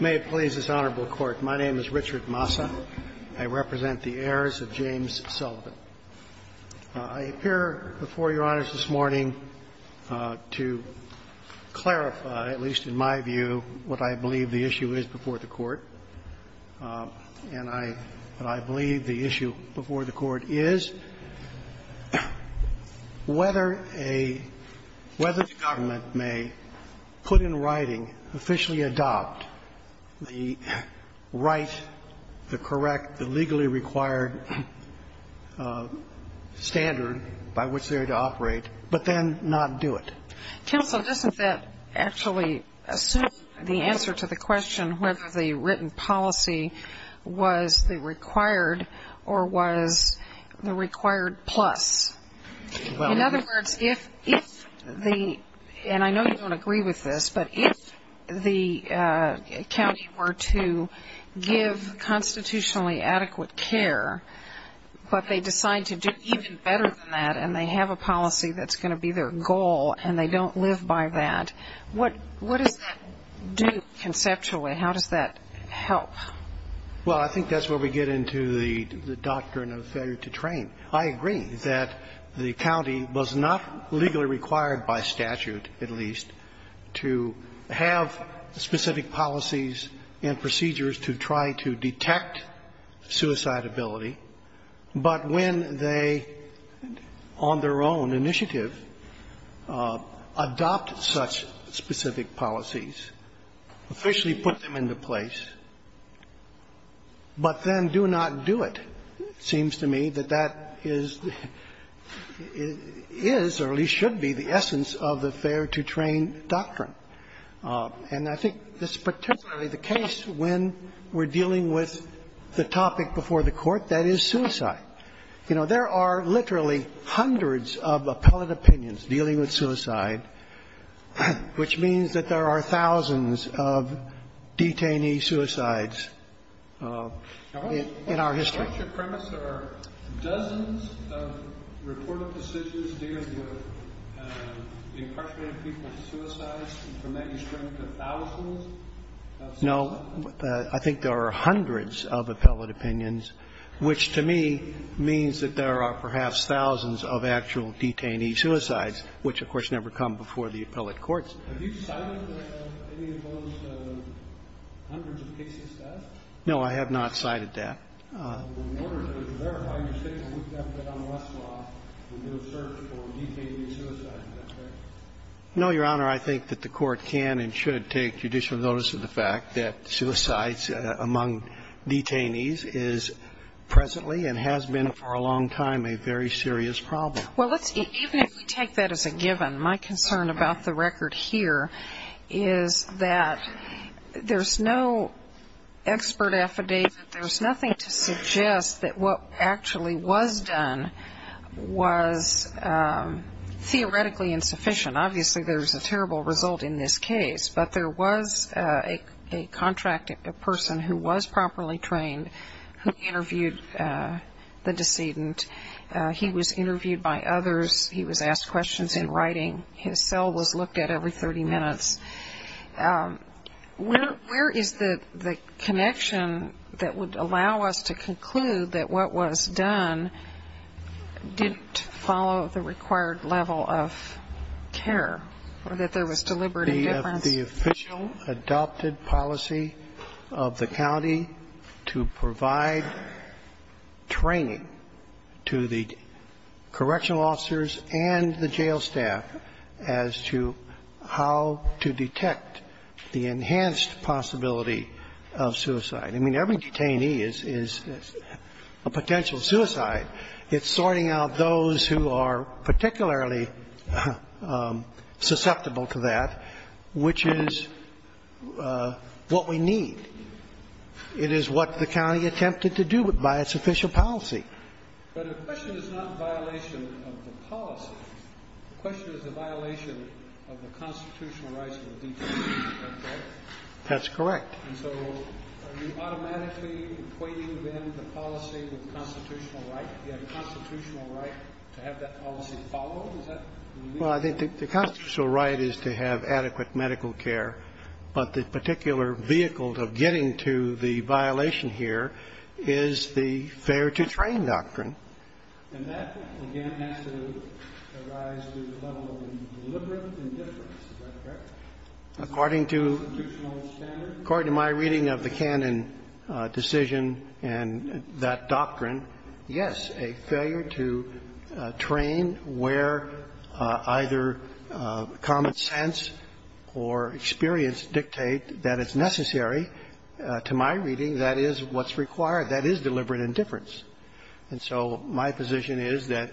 May it please this Honorable Court, my name is Richard Massa. I represent the heirs of James Sullivan. I appear before Your Honors this morning to clarify, at least in my view, what I believe the issue is before the Court. And I believe the issue before the Court is whether a – whether the government may put in writing, officially adopt the right, the correct, the legally required standard by which they are to operate, but then not do it. Counsel, doesn't that actually assume the answer to the question whether the written policy was the required or was the required plus? In other words, if the – and I know you don't agree with this, but if the county were to give constitutionally adequate care, but they decide to do even better than that and they have a policy that's going to be their goal and they don't live by that, what does that do conceptually? How does that help? Well, I think that's where we get into the doctrine of failure to train. I agree that the county was not legally required by statute, at least, to have specific policies and procedures to try to detect suicide ability. But when they, on their own initiative, adopt such specific policies, officially put them into place, but then do not do it, it seems to me that that is, or at least should be, the essence of the failure to train doctrine. And I think that's particularly the case when we're dealing with the topic before the Court, that is, suicide. You know, there are literally hundreds of appellate opinions dealing with suicide, which means that there are thousands of detainee suicides in our history. Now, what's your premise? There are dozens of reported decisions dealing with incarcerated people's suicides, and from that you shrink to thousands of suicides? No. I think there are hundreds of appellate opinions, which to me means that there are perhaps thousands of actual detainee suicides, which, of course, never come before the appellate courts. Have you cited any of those hundreds of cases of death? No, I have not cited that. In order to verify your statement, you have to get on the Westlaw and do a search for detainee suicides. Is that correct? No, Your Honor. I think that the Court can and should take judicial notice of the fact that suicides among detainees is presently and has been for a long time a very serious problem. Well, even if we take that as a given, my concern about the record here is that there's no expert affidavit, there's nothing to suggest that what actually was done was theoretically insufficient. Obviously, there's a terrible result in this case, but there was a contract, a person who was properly trained who interviewed the decedent. He was interviewed by others. He was asked questions in writing. His cell was looked at every 30 minutes. Where is the connection that would allow us to conclude that what was done didn't follow the required level of care or that there was deliberate indifference? The official adopted policy of the county to provide training to the correctional officers and the jail staff as to how to detect the enhanced possibility of suicide. I mean, every detainee is a potential suicide. It's sorting out those who are particularly susceptible to that, which is what we need. It is what the county attempted to do by its official policy. But the question is not violation of the policy. The question is the violation of the constitutional rights of the detainee. That's correct. And so are you automatically equating, then, the policy with constitutional right? Do you have a constitutional right to have that policy followed? Is that what you mean? Well, I think the constitutional right is to have adequate medical care, but the particular vehicle of getting to the violation here is the failure-to-train doctrine. And that, again, has to arise through the level of deliberate indifference. Is that correct? According to my reading of the Cannon decision and that doctrine, yes, a failure to train where either common sense or experience dictate that it's necessary. To my reading, that is what's required. That is deliberate indifference. And so my position is that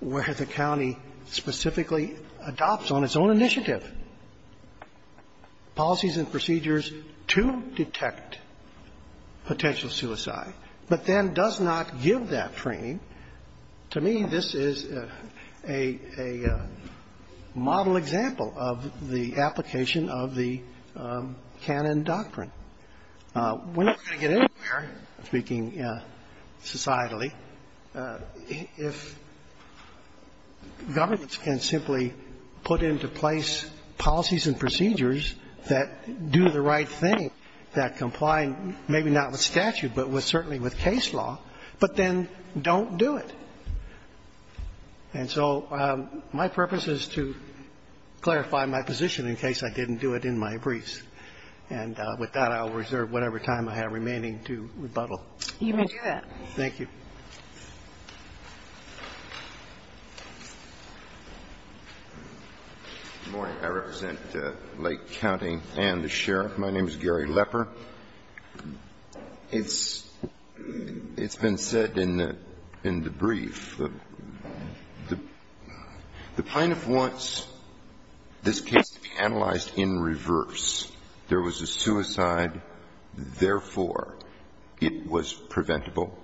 where the county specifically adopts on its own initiative policies and procedures to detect potential suicide but then does not give that training, to me this is a model example of the application of the Cannon doctrine. We're not going to get anywhere, speaking societally, if governments can simply put into place policies and procedures that do the right thing, that comply maybe not with statute but certainly with case law, but then don't do it. And so my purpose is to clarify my position in case I didn't do it in my briefs. And with that, I will reserve whatever time I have remaining to rebuttal. You may do that. Thank you. Good morning. I represent Lake County and the sheriff. My name is Gary Lepper. It's been said in the brief that the plaintiff wants this case to be analyzed in reverse. There was a suicide. Therefore, it was preventable.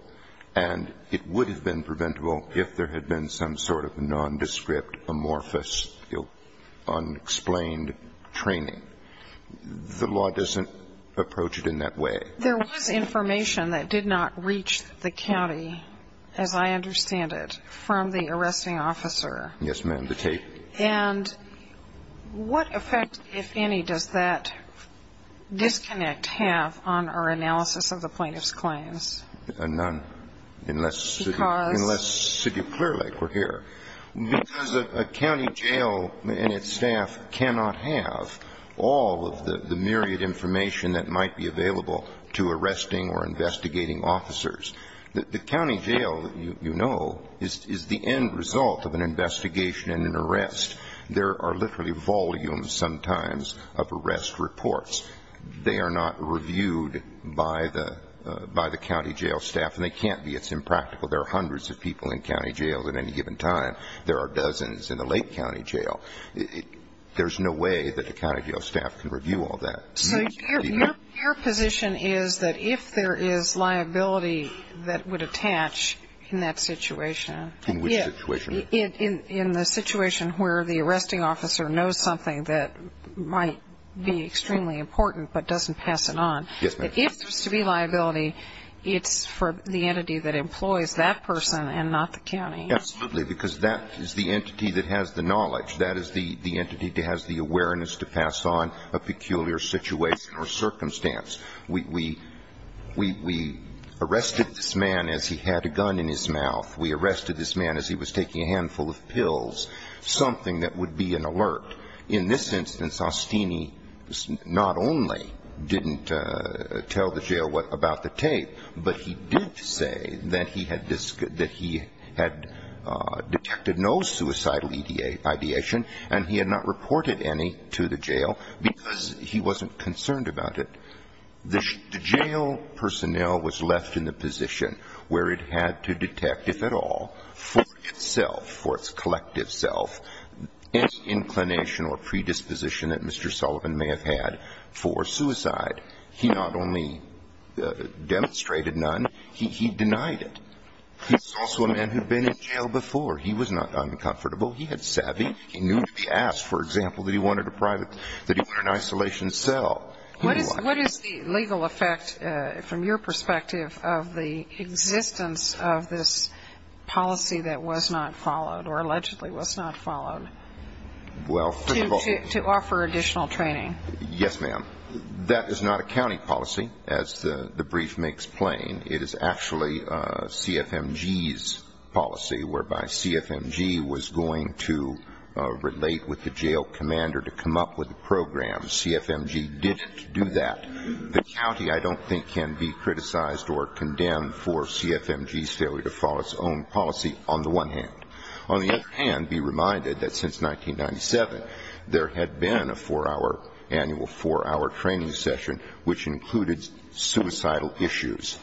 And it would have been preventable if there had been some sort of nondescript, amorphous, unexplained training. The law doesn't approach it in that way. There was information that did not reach the county, as I understand it, from the arresting officer. Yes, ma'am, the tape. And what effect, if any, does that disconnect have on our analysis of the plaintiff's claims? None, unless City of Clear Lake were here. Because a county jail and its staff cannot have all of the myriad information that might be available to arresting or investigating officers. The county jail, you know, is the end result of an investigation and an arrest. There are literally volumes sometimes of arrest reports. They are not reviewed by the county jail staff, and they can't be. It's impractical. There are hundreds of people in county jails at any given time. There are dozens in the Lake County Jail. There's no way that the county jail staff can review all that. So your position is that if there is liability that would attach in that situation. In which situation? In the situation where the arresting officer knows something that might be extremely important but doesn't pass it on. Yes, ma'am. If there's to be liability, it's for the entity that employs that person and not the county. Absolutely, because that is the entity that has the knowledge. That is the entity that has the awareness to pass on a peculiar situation or circumstance. We arrested this man as he had a gun in his mouth. We arrested this man as he was taking a handful of pills, something that would be an alert. In this instance, Ostini not only didn't tell the jail about the tape, but he did say that he had detected no suicidal ideation, and he had not reported any to the jail because he wasn't concerned about it. The jail personnel was left in the position where it had to detect, if at all, for itself, for its collective self, any inclination or predisposition that Mr. Sullivan may have had for suicide. He not only demonstrated none, he denied it. He's also a man who had been in jail before. He was not uncomfortable. He had savvy. He knew to be asked, for example, that he wanted a private, that he wanted an isolation cell. What is the legal effect, from your perspective, of the existence of this policy that was not followed or allegedly was not followed to offer additional training? Yes, ma'am. That is not a county policy, as the brief may explain. It is actually CFMG's policy, whereby CFMG was going to relate with the jail commander to come up with a program. CFMG didn't do that. The county, I don't think, can be criticized or condemned for CFMG's failure to follow its own policy, on the one hand. On the other hand, be reminded that since 1997, there had been a four-hour, annual four-hour training session, which included suicidal issues.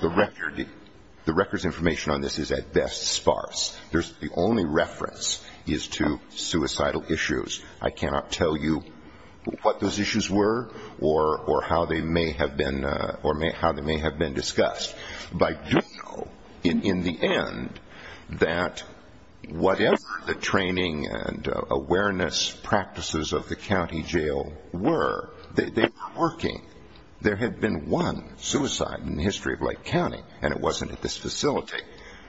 The record's information on this is, at best, sparse. The only reference is to suicidal issues. I cannot tell you what those issues were or how they may have been discussed. But I do know, in the end, that whatever the training and awareness practices of the county jail were, they were working. There had been one suicide in the history of Lake County, and it wasn't at this facility.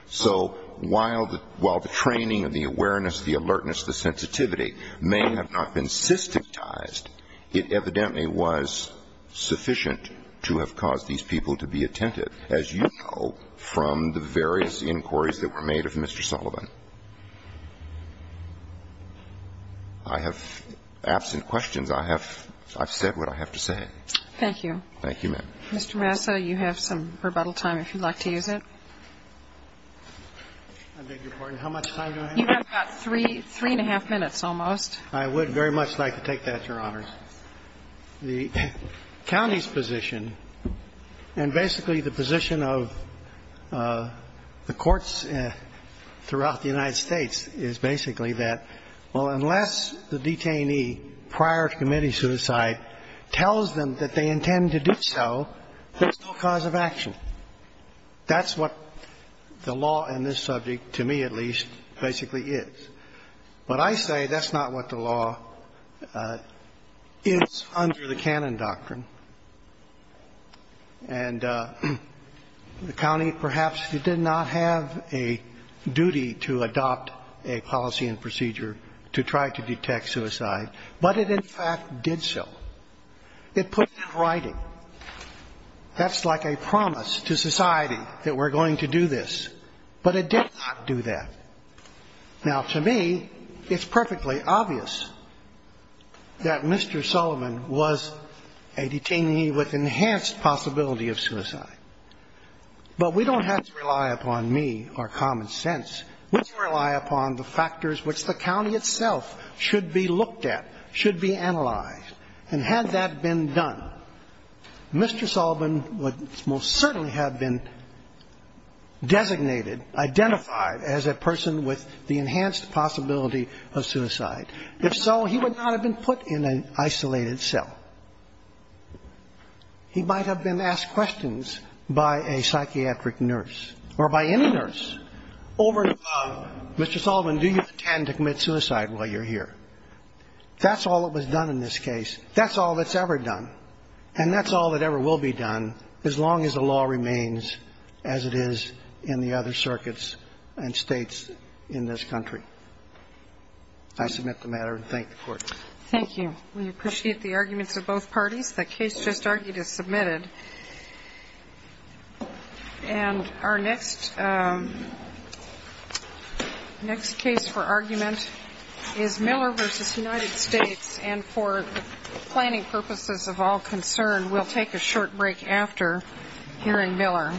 So while the training and the awareness, the alertness, the sensitivity may have not been systematized, it evidently was sufficient to have caused these people to be attentive, as you know, from the various inquiries that were made of Mr. Sullivan. I have, absent questions, I have said what I have to say. Thank you. Thank you, ma'am. Mr. Massa, you have some rebuttal time, if you'd like to use it. I beg your pardon. How much time do I have? You have about three, three and a half minutes, almost. I would very much like to take that, Your Honors. The county's position, and basically the position of the courts throughout the United States, is basically that, well, unless the detainee prior to committing suicide tells them that they intend to do so, there's no cause of action. That's what the law in this subject, to me at least, basically is. But I say that's not what the law is under the canon doctrine. And the county perhaps did not have a duty to adopt a policy and procedure to try to detect suicide, but it in fact did so. It put it in writing. That's like a promise to society that we're going to do this. But it did not do that. Now, to me, it's perfectly obvious that Mr. Sullivan was a detainee with enhanced possibility of suicide. But we don't have to rely upon me or common sense. We can rely upon the factors which the county itself should be looked at, should be analyzed. And had that been done, Mr. Sullivan would most certainly have been designated, identified as a person with the enhanced possibility of suicide. If so, he would not have been put in an isolated cell. He might have been asked questions by a psychiatric nurse or by any nurse over and above, Mr. Sullivan, do you intend to commit suicide while you're here? That's all that was done in this case. That's all that's ever done. And that's all that ever will be done as long as the law remains as it is in the other circuits and states in this country. I submit the matter and thank the Court. Thank you. We appreciate the arguments of both parties. The case just argued is submitted. And our next case for argument is Miller v. United States. And for planning purposes of all concern, we'll take a short break after hearing Miller.